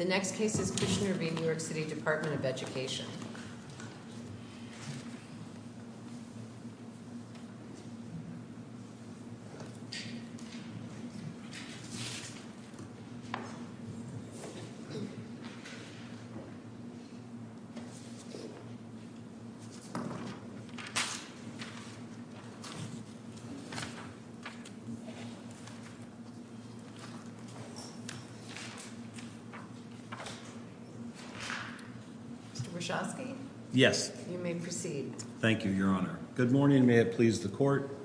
The next case is Kushner v. New York City Department of Education. Yes, you may proceed. Thank you, Your Honor. Good morning. May it please the court.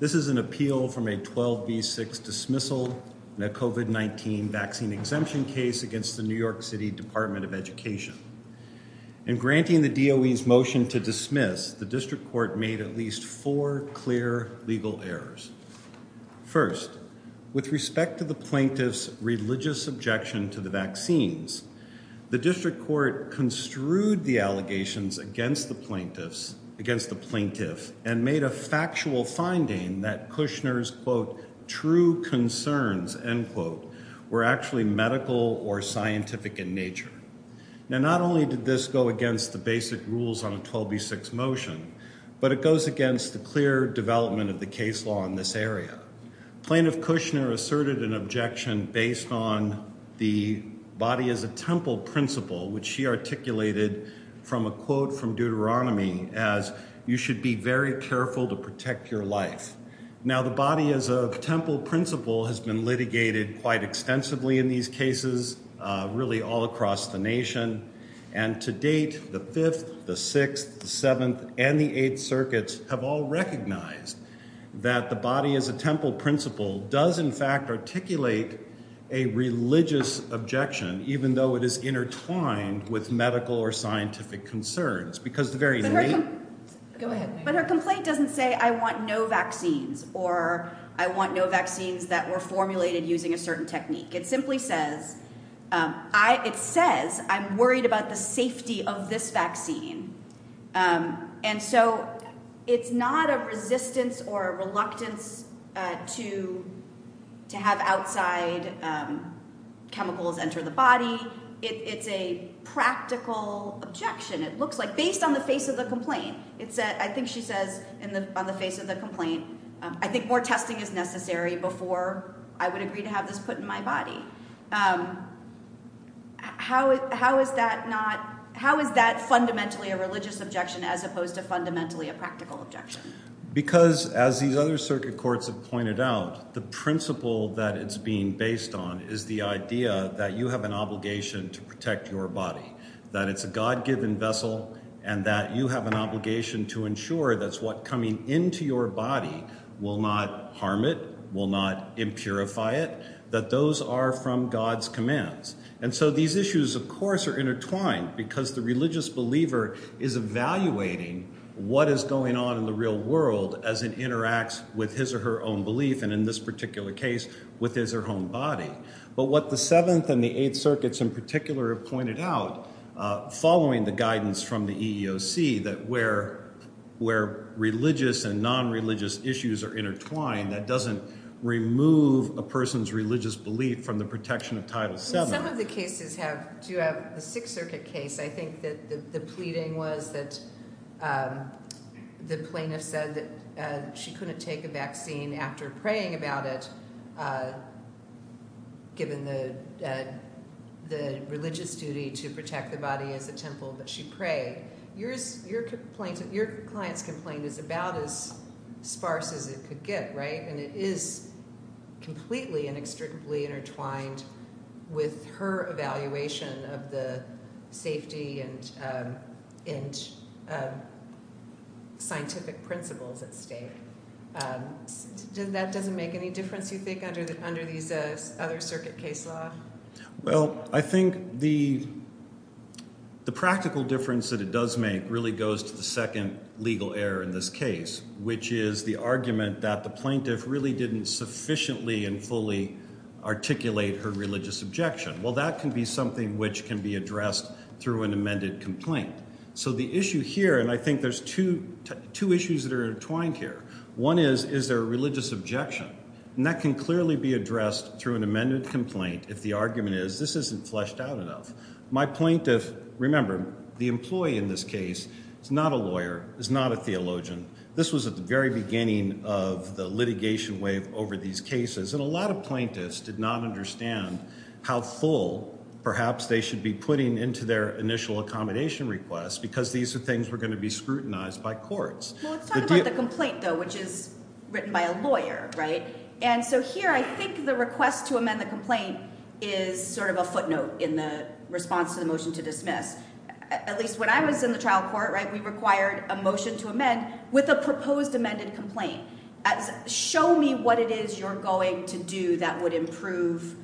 This is an appeal from a 12 v 6 dismissal. COVID-19 vaccine exemption case against the New York City Department of Education and granting the deal is motion to dismiss the district court made at least four clear legal errors. First, with respect to the plaintiff's religious objection to the vaccines, the district court construed the allegations against the plaintiffs against the plaintiff and made a factual finding that Kushner's quote true concerns and quote were actually medical or scientific in nature. Now, not only did this go against the basic rules on a 12 v 6 motion, but it goes against the clear development of the case law in this area. Plaintiff Kushner asserted an objection based on the body as a temple principle, which she articulated from a quote from Deuteronomy as you should be very careful to protect your life. Now the body is a temple principle has been litigated quite extensively in these cases, really all across the nation. And to date, the fifth, the sixth, seventh, and the eighth circuits have all recognized that the body is a temple principle does in fact articulate a religious objection, even though it is intertwined with medical or scientific concerns because the very. But her complaint doesn't say, I want no vaccines or I want no vaccines that were formulated using a certain technique. It simply says I, it says, I'm worried about the safety of this vaccine. And so it's not a resistance or reluctance to to have outside chemicals enter the body. It's a practical objection. It looks like based on the face of the complaint. It said, I think she says in the on the face of the complaint, I think more testing is necessary before I would agree to have this put in my body. How, how is that not? How is that fundamentally a religious objection as opposed to fundamentally a practical objection? Because as these other circuit courts have pointed out, the principle that it's being based on is the idea that you have an obligation to protect your body, that it's a God given vessel and that you have an obligation to ensure that's what coming into your body will not harm. It will not impurify it, that those are from God's commands. And so these issues, of course, are intertwined because the religious believer is evaluating what is going on in the real world as it interacts with his or her own belief. And in this particular case with his or her own body. But what the 7th and the 8th circuits in particular have pointed out, following the guidance from the EEOC, that where where religious and non-religious issues are intertwined, that doesn't remove a person's religious belief from the protection of Title VII. Some of the cases have, do you have the Sixth Circuit case, I think that the pleading was that the plaintiff said that she couldn't take a vaccine after praying about it, given the religious duty to protect the body as a temple, but she prayed. Your client's complaint is about as sparse as it could get, right? And it is completely and inextricably intertwined with her evaluation of the safety and scientific principles at stake. That doesn't make any difference, you think, under these other circuit case law? Well, I think the practical difference that it does make really goes to the second legal error in this case, which is the argument that the plaintiff really didn't sufficiently and fully articulate her religious objection. Well, that can be something which can be addressed through an amended complaint. So the issue here, and I think there's two issues that are intertwined here. One is, is there a religious objection? And that can clearly be addressed through an amended complaint if the argument is this isn't fleshed out enough. My plaintiff, remember, the employee in this case is not a lawyer, is not a theologian. This was at the very beginning of the litigation wave over these cases, and a lot of plaintiffs did not understand how full perhaps they should be putting into their initial accommodation request because these are things were going to be scrutinized by courts. Well, let's talk about the complaint, though, which is written by a lawyer, right? And so here, I think the request to amend the complaint is sort of a footnote in the response to the motion to dismiss. At least when I was in the trial court, right, we required a motion to amend with a proposed amended complaint. Show me what it is you're going to do that would improve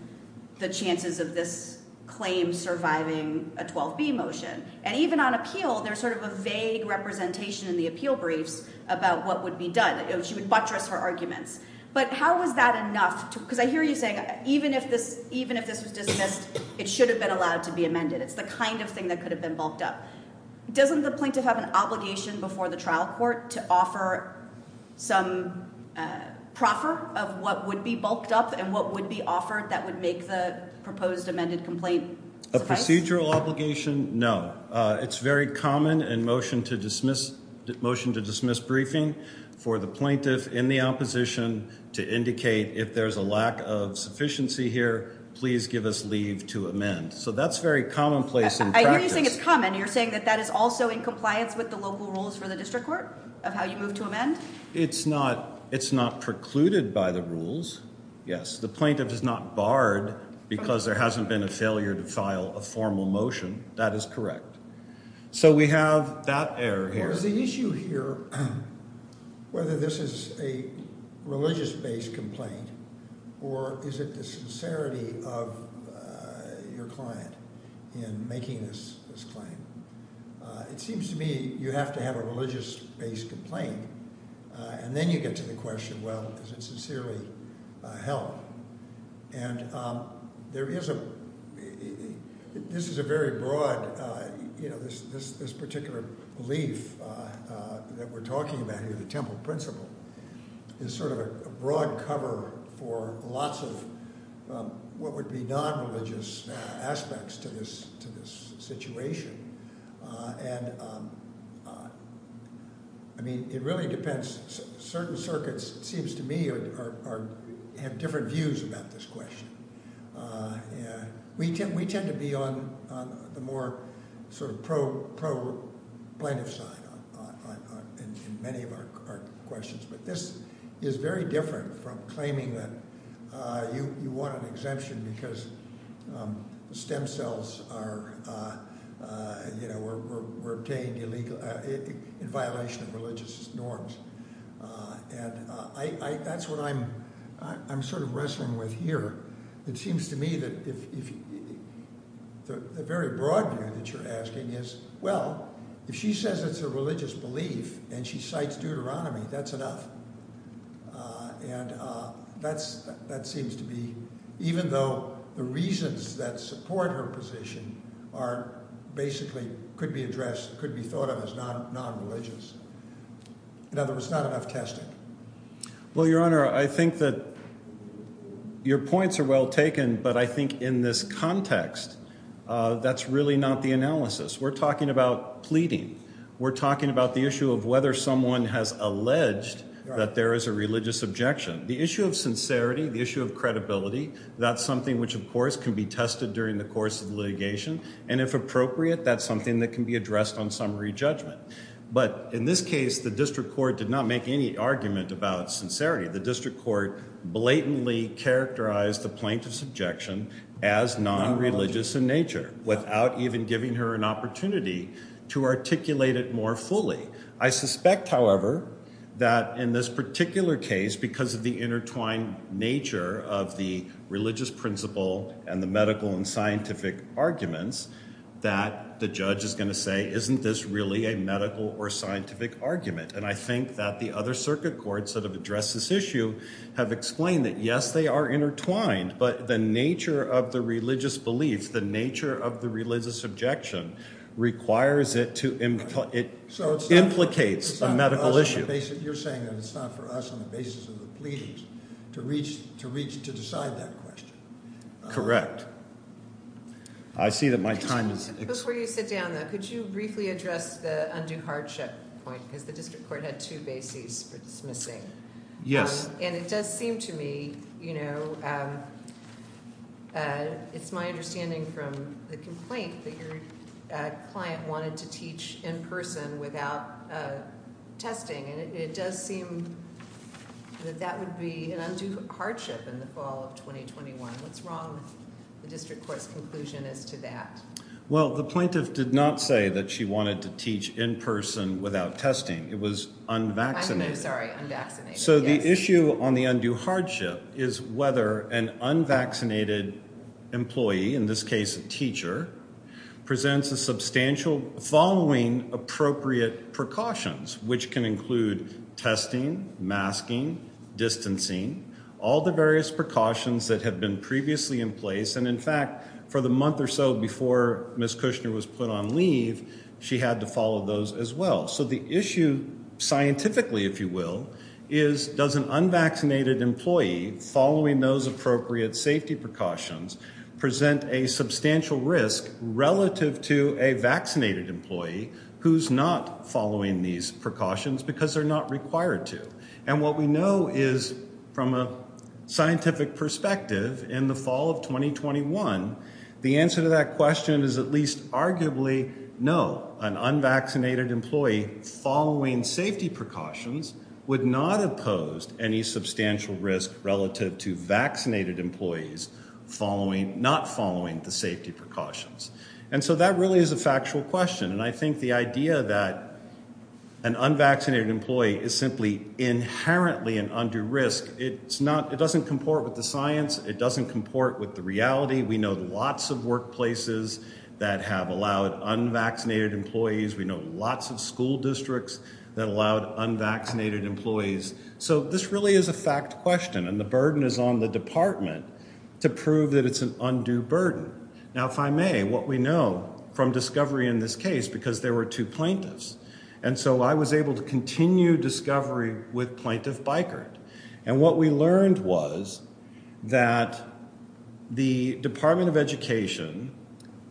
the chances of this claim surviving a 12B motion. And even on appeal, there's sort of a vague representation in the appeal briefs about what would be done. She would buttress her arguments. But how was that enough? Because I hear you saying even if this was dismissed, it should have been allowed to be amended. It's the kind of thing that could have been bulked up. Doesn't the plaintiff have an obligation before the trial court to offer some proffer of what would be bulked up and what would be offered that would make the proposed amended complaint? A procedural obligation? No. It's very common in motion to dismiss briefing for the plaintiff in the opposition to indicate if there's a lack of sufficiency here, please give us leave to amend. So that's very commonplace in practice. Why are you saying it's common? You're saying that that is also in compliance with the local rules for the district court of how you move to amend? It's not precluded by the rules, yes. The plaintiff is not barred because there hasn't been a failure to file a formal motion. That is correct. So we have that error here. There is the issue here whether this is a religious-based complaint or is it the sincerity of your client in making this claim. It seems to me you have to have a religious-based complaint and then you get to the question, well, is it sincerely held? And there is a – this is a very broad – this particular belief that we're talking about here, the temple principle, is sort of a broad cover for lots of what would be non-religious aspects to this situation. And, I mean, it really depends. Certain circuits, it seems to me, have different views about this question. We tend to be on the more sort of pro-plaintiff side in many of our questions. But this is very different from claiming that you want an exemption because the stem cells are – were obtained illegal – in violation of religious norms. And I – that's what I'm sort of wrestling with here. It seems to me that if – the very broad view that you're asking is, well, if she says it's a religious belief and she cites Deuteronomy, that's enough. And that's – that seems to be – even though the reasons that support her position are basically – could be addressed, could be thought of as non-religious. In other words, not enough testing. Well, Your Honor, I think that your points are well taken, but I think in this context that's really not the analysis. We're talking about pleading. We're talking about the issue of whether someone has alleged that there is a religious objection. The issue of sincerity, the issue of credibility, that's something which, of course, can be tested during the course of litigation. And if appropriate, that's something that can be addressed on summary judgment. But in this case, the district court did not make any argument about sincerity. The district court blatantly characterized the plaintiff's objection as non-religious in nature without even giving her an opportunity to articulate it more fully. I suspect, however, that in this particular case, because of the intertwined nature of the religious principle and the medical and scientific arguments, that the judge is going to say, isn't this really a medical or scientific argument? And I think that the other circuit courts that have addressed this issue have explained that, yes, they are intertwined. But the nature of the religious beliefs, the nature of the religious objection, requires it to – it implicates a medical issue. You're saying that it's not for us on the basis of the pleadings to reach – to decide that question. Correct. I see that my time is – Before you sit down, though, could you briefly address the undue hardship point? Because the district court had two bases for dismissing. Yes. And it does seem to me, you know, it's my understanding from the complaint that your client wanted to teach in person without testing. And it does seem that that would be an undue hardship in the fall of 2021. What's wrong with the district court's conclusion as to that? Well, the plaintiff did not say that she wanted to teach in person without testing. It was unvaccinated. I'm sorry, unvaccinated. So the issue on the undue hardship is whether an unvaccinated employee, in this case a teacher, presents a substantial – following appropriate precautions, which can include testing, masking, distancing, all the various precautions that have been previously in place. And, in fact, for the month or so before Ms. Kushner was put on leave, she had to follow those as well. So the issue scientifically, if you will, is does an unvaccinated employee following those appropriate safety precautions present a substantial risk relative to a vaccinated employee who's not following these precautions because they're not required to? And what we know is from a scientific perspective, in the fall of 2021, the answer to that question is at least arguably no. An unvaccinated employee following safety precautions would not have posed any substantial risk relative to vaccinated employees not following the safety precautions. And so that really is a factual question. And I think the idea that an unvaccinated employee is simply inherently an undue risk, it doesn't comport with the science. It doesn't comport with the reality. We know lots of workplaces that have allowed unvaccinated employees. We know lots of school districts that allowed unvaccinated employees. So this really is a fact question, and the burden is on the department to prove that it's an undue burden. Now, if I may, what we know from discovery in this case, because there were two plaintiffs, and so I was able to continue discovery with Plaintiff Bikert. And what we learned was that the Department of Education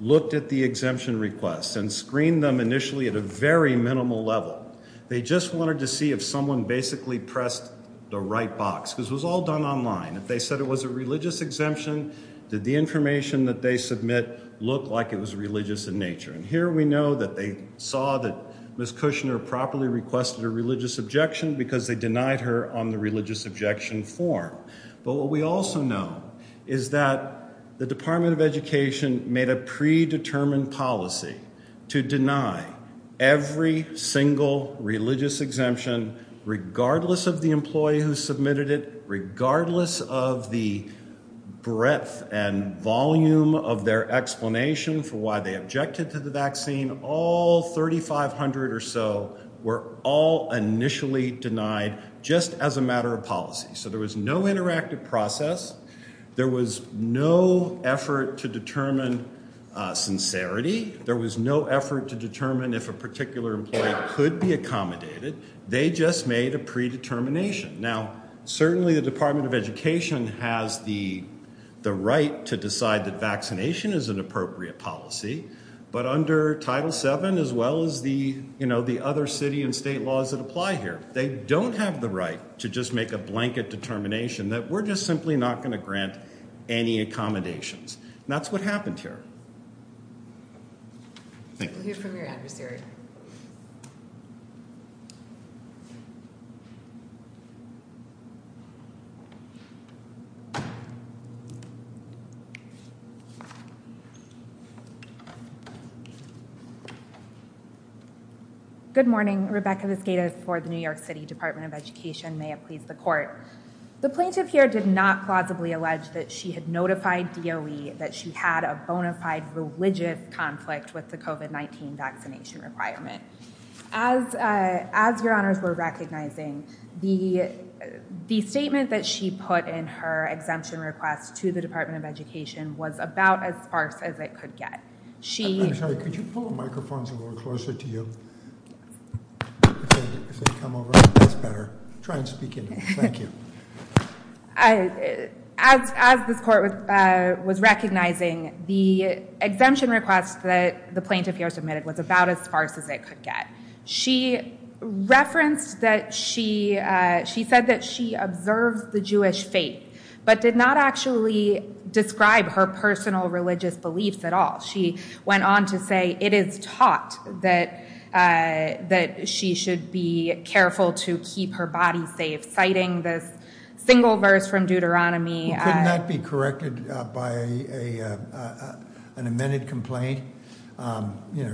looked at the exemption requests and screened them initially at a very minimal level. They just wanted to see if someone basically pressed the right box, because it was all done online. If they said it was a religious exemption, did the information that they submit look like it was religious in nature? And here we know that they saw that Ms. Kushner properly requested a religious objection because they denied her on the religious objection form. But what we also know is that the Department of Education made a predetermined policy to deny every single religious exemption, regardless of the employee who submitted it, regardless of the breadth and volume of their explanation for why they objected to the vaccine. All 3,500 or so were all initially denied just as a matter of policy. So there was no interactive process. There was no effort to determine sincerity. There was no effort to determine if a particular employee could be accommodated. They just made a predetermination. Now, certainly the Department of Education has the right to decide that vaccination is an appropriate policy, but under Title VII, as well as the other city and state laws that apply here, they don't have the right to just make a blanket determination that we're just simply not going to grant any accommodations. And that's what happened here. Thank you. We'll hear from your adversary. Good morning. Rebecca Vizqueda for the New York City Department of Education. May it please the court. The plaintiff here did not plausibly allege that she had notified DOE that she had a bona fide religious conflict with the COVID-19 vaccination requirement. As your honors were recognizing, the statement that she put in her exemption request to the Department of Education was about as sparse as it could get. I'm sorry, could you pull the microphones a little closer to you? If they come over, that's better. Try and speak into them. Thank you. As this court was recognizing, the exemption request that the plaintiff here submitted was about as sparse as it could get. She referenced that she said that she observes the Jewish faith, but did not actually describe her personal religious beliefs at all. She went on to say it is taught that she should be careful to keep her body safe, citing this single verse from Deuteronomy. Couldn't that be corrected by an amended complaint?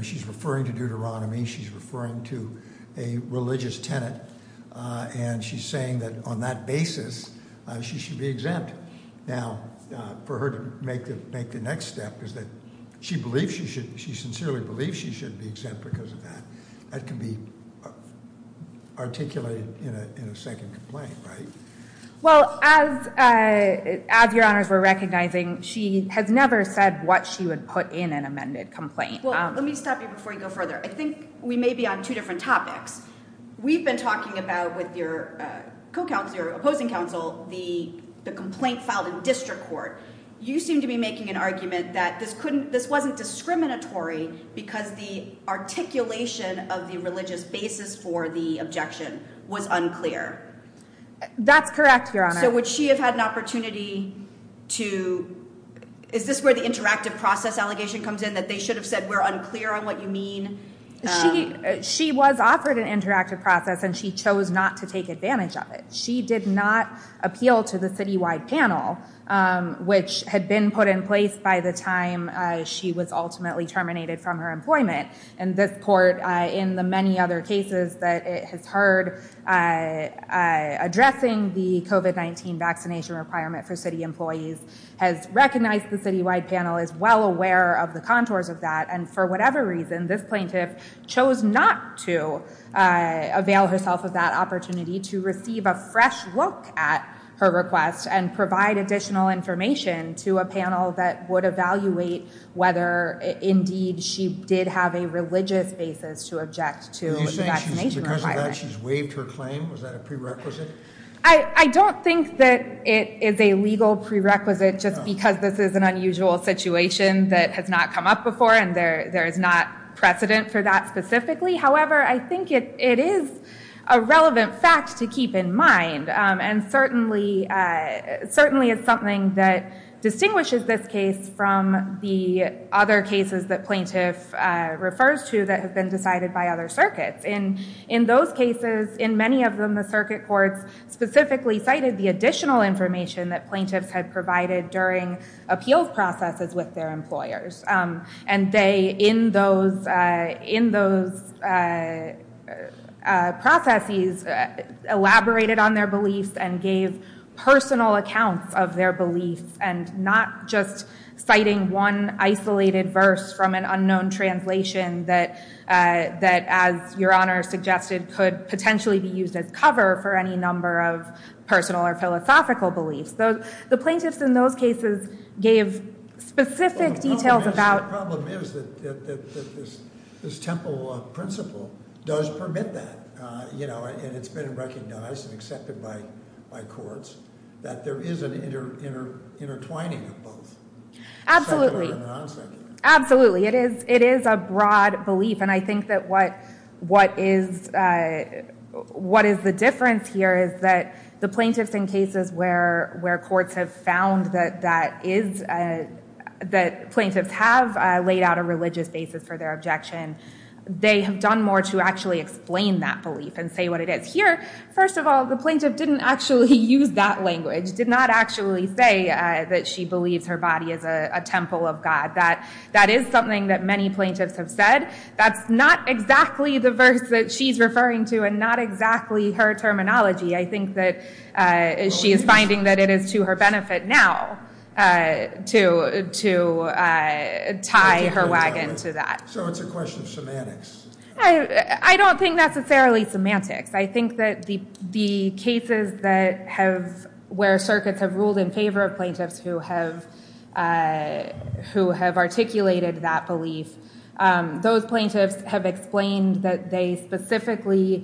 She's referring to Deuteronomy. She's referring to a religious tenet. And she's saying that on that basis, she should be exempt. Now, for her to make the next step is that she sincerely believes she should be exempt because of that. That can be articulated in a second complaint, right? Well, as your honors were recognizing, she has never said what she would put in an amended complaint. Well, let me stop you before you go further. I think we may be on two different topics. We've been talking about with your opposing counsel the complaint filed in district court. You seem to be making an argument that this wasn't discriminatory because the articulation of the religious basis for the objection was unclear. That's correct, your honor. So would she have had an opportunity to – is this where the interactive process allegation comes in that they should have said we're unclear on what you mean? She was offered an interactive process, and she chose not to take advantage of it. She did not appeal to the citywide panel, which had been put in place by the time she was ultimately terminated from her employment. And this court, in the many other cases that it has heard addressing the COVID-19 vaccination requirement for city employees, has recognized the citywide panel, is well aware of the contours of that. And for whatever reason, this plaintiff chose not to avail herself of that opportunity to receive a fresh look at her request and provide additional information to a panel that would evaluate whether indeed she did have a religious basis to object to a vaccination requirement. Do you think because of that she's waived her claim? Was that a prerequisite? I don't think that it is a legal prerequisite just because this is an unusual situation that has not come up before, and there is not precedent for that specifically. However, I think it is a relevant fact to keep in mind, and certainly it's something that distinguishes this case from the other cases that plaintiff refers to that have been decided by other circuits. In those cases, in many of them, the circuit courts specifically cited the additional information that plaintiffs had provided during appeals processes with their employers. And they, in those processes, elaborated on their beliefs and gave personal accounts of their beliefs, and not just citing one isolated verse from an unknown translation that, as Your Honor suggested, could potentially be used as cover for any number of personal or philosophical beliefs. The plaintiffs in those cases gave specific details about- The problem is that this Temple principle does permit that. And it's been recognized and accepted by courts that there is an intertwining of both secular and non-secular. Absolutely. It is a broad belief, and I think that what is the difference here is that the plaintiffs in cases where courts have found that plaintiffs have laid out a religious basis for their objection, they have done more to actually explain that belief and say what it is. Here, first of all, the plaintiff didn't actually use that language, did not actually say that she believes her body is a temple of God. That is something that many plaintiffs have said. That's not exactly the verse that she's referring to, and not exactly her terminology. I think that she is finding that it is to her benefit now to tie her wagon to that. So it's a question of semantics. I don't think necessarily semantics. I think that the cases where circuits have ruled in favor of plaintiffs who have articulated that belief, those plaintiffs have explained that they specifically- I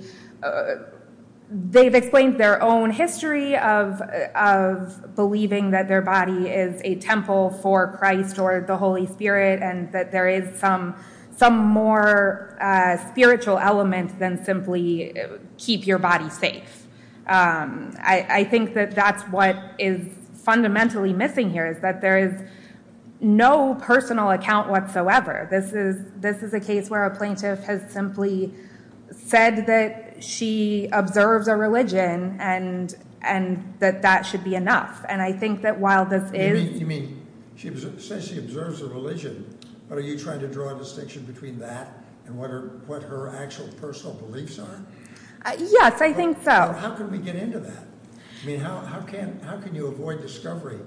think that that's what is fundamentally missing here is that there is no personal account whatsoever. This is a case where a plaintiff has simply said that she observes a religion and that that should be enough. And I think that while this is- You mean, she says she observes a religion, but are you trying to draw a distinction between that and what her actual personal beliefs are? Yes, I think so. How can we get into that? I mean, how can you avoid discovery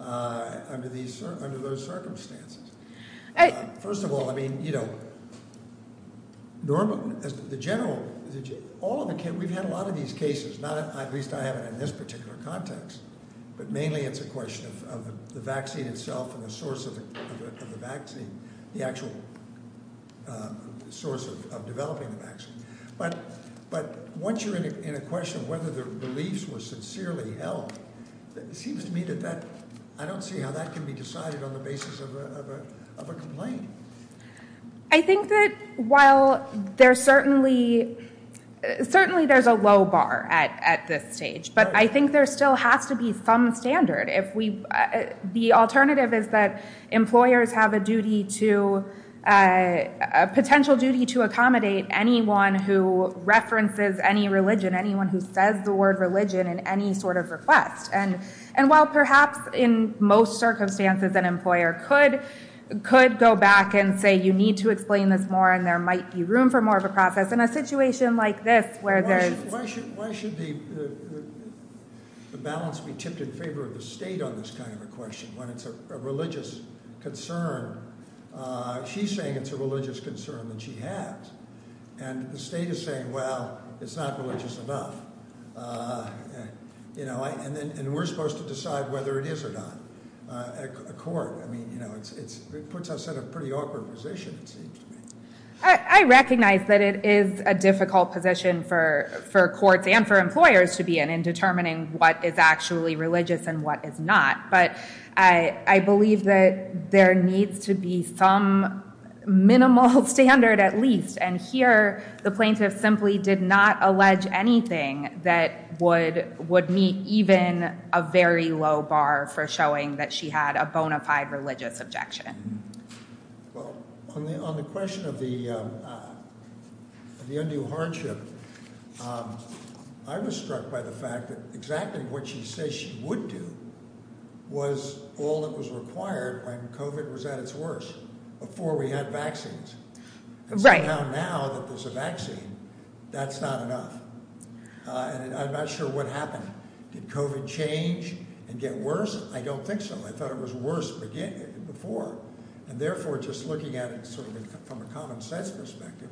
under those circumstances? First of all, I mean, you know, the general- we've had a lot of these cases, at least I haven't in this particular context, but mainly it's a question of the vaccine itself and the source of the vaccine, the actual source of developing the vaccine. But once you're in a question of whether the beliefs were sincerely held, it seems to me that that- I don't see how that can be decided on the basis of a complaint. I think that while there's certainly- certainly there's a low bar at this stage, but I think there still has to be some standard. The alternative is that employers have a duty to- a potential duty to accommodate anyone who references any religion, anyone who says the word religion in any sort of request. And while perhaps in most circumstances an employer could go back and say you need to explain this more and there might be room for more of a process, in a situation like this where there's- Why should the balance be tipped in favor of the state on this kind of a question when it's a religious concern? She's saying it's a religious concern that she has. And the state is saying, well, it's not religious enough. You know, and we're supposed to decide whether it is or not at court. I mean, you know, it puts us in a pretty awkward position, it seems to me. I recognize that it is a difficult position for courts and for employers to be in in determining what is actually religious and what is not. But I believe that there needs to be some minimal standard at least. And here the plaintiff simply did not allege anything that would meet even a very low bar for showing that she had a bona fide religious objection. Well, on the question of the undue hardship, I was struck by the fact that exactly what she says she would do was all that was required when COVID was at its worst, before we had vaccines. Right. And somehow now that there's a vaccine, that's not enough. And I'm not sure what happened. Did COVID change and get worse? I don't think so. I thought it was worse before. And therefore, just looking at it from a common sense perspective,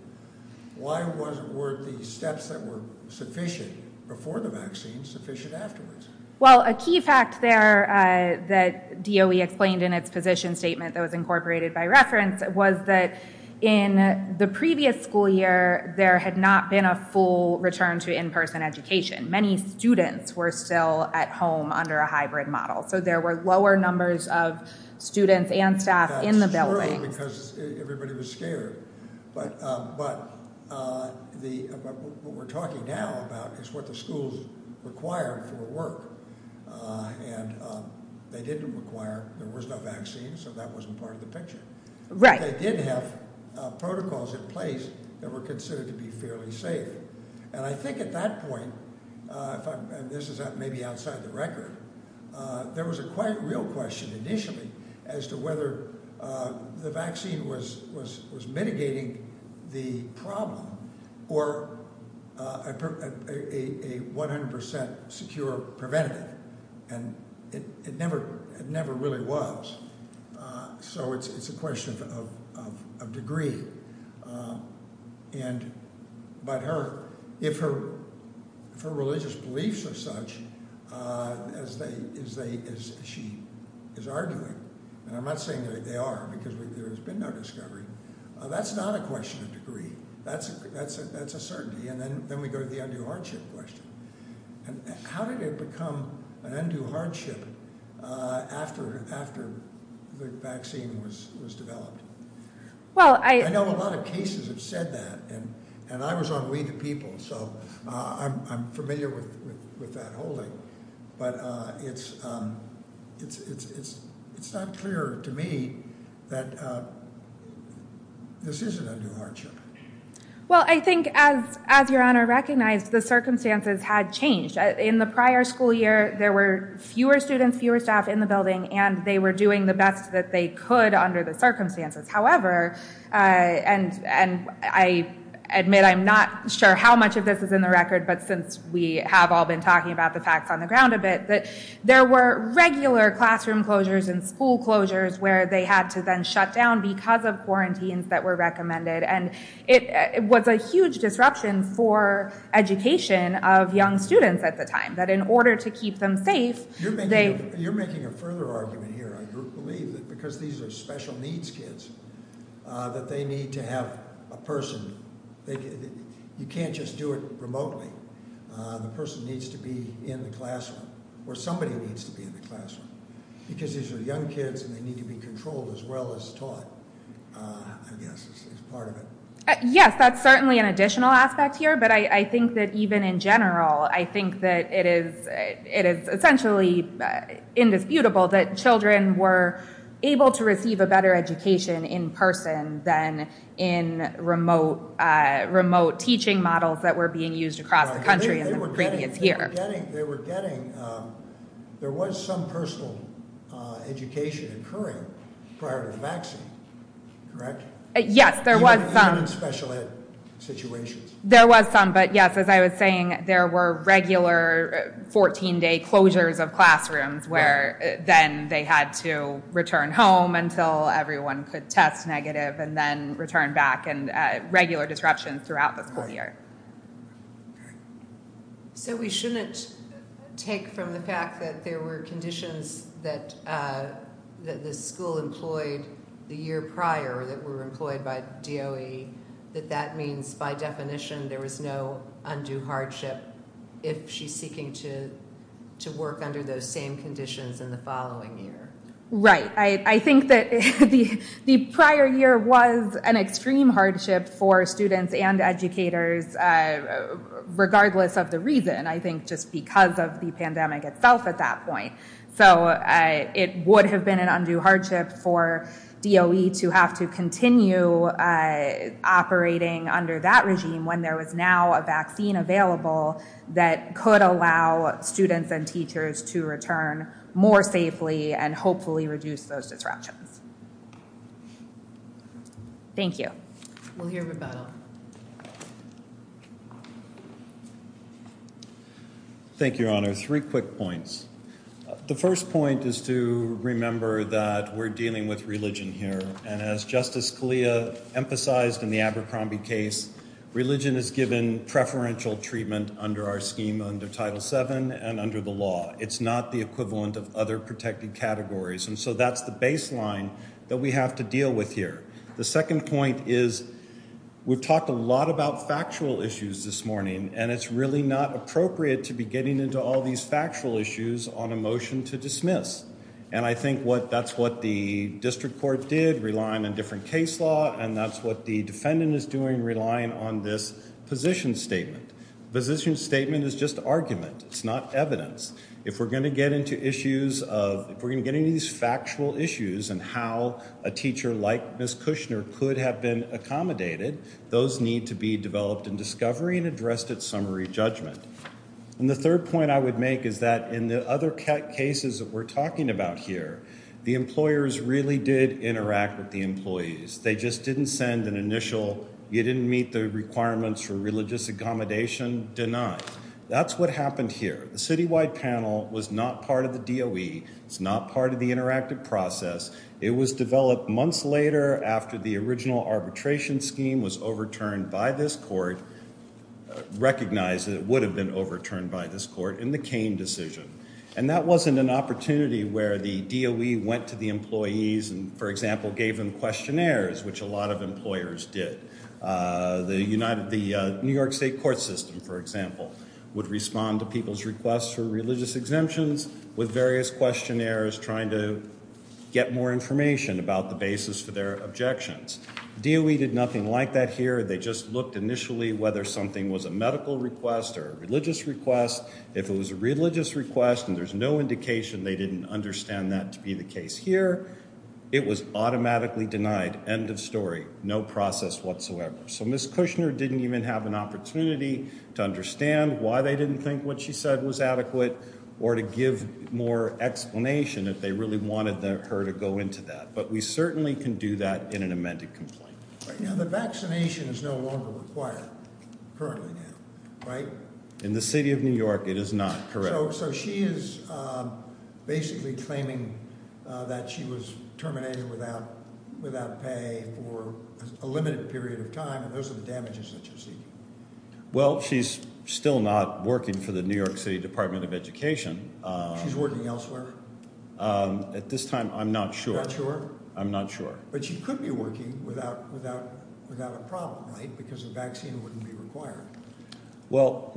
why were the steps that were sufficient before the vaccine sufficient afterwards? Well, a key fact there that DOE explained in its position statement that was incorporated by reference was that in the previous school year, there had not been a full return to in-person education. Many students were still at home under a hybrid model. So there were lower numbers of students and staff in the building. That's true because everybody was scared. But what we're talking now about is what the schools required for work. And they didn't require, there was no vaccine, so that wasn't part of the picture. Right. But they did have protocols in place that were considered to be fairly safe. And I think at that point, and this is maybe outside the record, there was a quite real question initially as to whether the vaccine was mitigating the problem or a 100% secure preventative. And it never really was. So it's a question of degree. But if her religious beliefs are such, as she is arguing, and I'm not saying that they are because there has been no discovery, that's not a question of degree. That's a certainty. And then we go to the undue hardship question. How did it become an undue hardship after the vaccine was developed? I know a lot of cases have said that. And I was on We the People, so I'm familiar with that holding. But it's not clear to me that this isn't an undue hardship. Well, I think as Your Honor recognized, the circumstances had changed. In the prior school year, there were fewer students, fewer staff in the building, and they were doing the best that they could under the circumstances. However, and I admit I'm not sure how much of this is in the record, but since we have all been talking about the facts on the ground a bit, that there were regular classroom closures and school closures where they had to then shut down because of quarantines that were recommended. And it was a huge disruption for education of young students at the time, that in order to keep them safe, they— You're making a further argument here, I believe, that because these are special needs kids, that they need to have a person. You can't just do it remotely. The person needs to be in the classroom. Or somebody needs to be in the classroom. Because these are young kids and they need to be controlled as well as taught, I guess, is part of it. Yes, that's certainly an additional aspect here. But I think that even in general, I think that it is essentially indisputable that children were able to receive a better education in person than in remote teaching models that were being used across the country in the previous year. They were getting—there was some personal education occurring prior to the vaccine, correct? Yes, there was some. Even in special ed situations? There was some. But yes, as I was saying, there were regular 14-day closures of classrooms where then they had to return home until everyone could test negative and then return back. And regular disruptions throughout the school year. So we shouldn't take from the fact that there were conditions that the school employed the year prior that were employed by DOE, that that means by definition there was no undue hardship if she's seeking to work under those same conditions in the following year? Right. I think that the prior year was an extreme hardship for students and educators, regardless of the reason, I think just because of the pandemic itself at that point. So it would have been an undue hardship for DOE to have to continue operating under that regime when there was now a vaccine available that could allow students and teachers to return more safely and hopefully reduce those disruptions. Thank you. We'll hear rebuttal. Thank you, Your Honor. Three quick points. The first point is to remember that we're dealing with religion here. And as Justice Scalia emphasized in the Abercrombie case, religion is given preferential treatment under our scheme under Title VII and under the law. It's not the equivalent of other protected categories. And so that's the baseline that we have to deal with here. The second point is we've talked a lot about factual issues this morning, and it's really not appropriate to be getting into all these factual issues on a motion to dismiss. And I think that's what the district court did, relying on different case law, and that's what the defendant is doing, relying on this position statement. Position statement is just argument. It's not evidence. If we're going to get into these factual issues and how a teacher like Ms. Kushner could have been accommodated, those need to be developed in discovery and addressed at summary judgment. And the third point I would make is that in the other cases that we're talking about here, the employers really did interact with the employees. They just didn't send an initial, you didn't meet the requirements for religious accommodation, denied. That's what happened here. The citywide panel was not part of the DOE. It's not part of the interactive process. It was developed months later after the original arbitration scheme was overturned by this court, recognized that it would have been overturned by this court in the Cain decision. And that wasn't an opportunity where the DOE went to the employees and, for example, gave them questionnaires, which a lot of employers did. The New York State court system, for example, would respond to people's requests for religious exemptions with various questionnaires trying to get more information about the basis for their objections. DOE did nothing like that here. They just looked initially whether something was a medical request or a religious request. If it was a religious request and there's no indication they didn't understand that to be the case here, it was automatically denied. End of story. No process whatsoever. So Ms. Kushner didn't even have an opportunity to understand why they didn't think what she said was adequate or to give more explanation if they really wanted her to go into that. But we certainly can do that in an amended complaint. Now, the vaccination is no longer required currently, right? In the city of New York, it is not, correct. So she is basically claiming that she was terminated without pay for a limited period of time. And those are the damages that you're seeking. Well, she's still not working for the New York City Department of Education. She's working elsewhere? At this time, I'm not sure. I'm not sure. But she could be working without a problem, right, because the vaccine wouldn't be required. Well,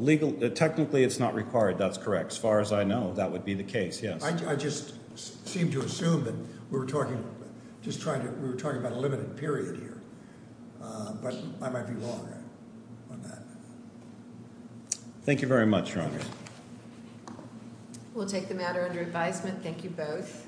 technically it's not required. That's correct. As far as I know, that would be the case, yes. I just seem to assume that we were talking about a limited period here. But I might be wrong on that. Thank you very much, Your Honor. We'll take the matter under advisement. Thank you both.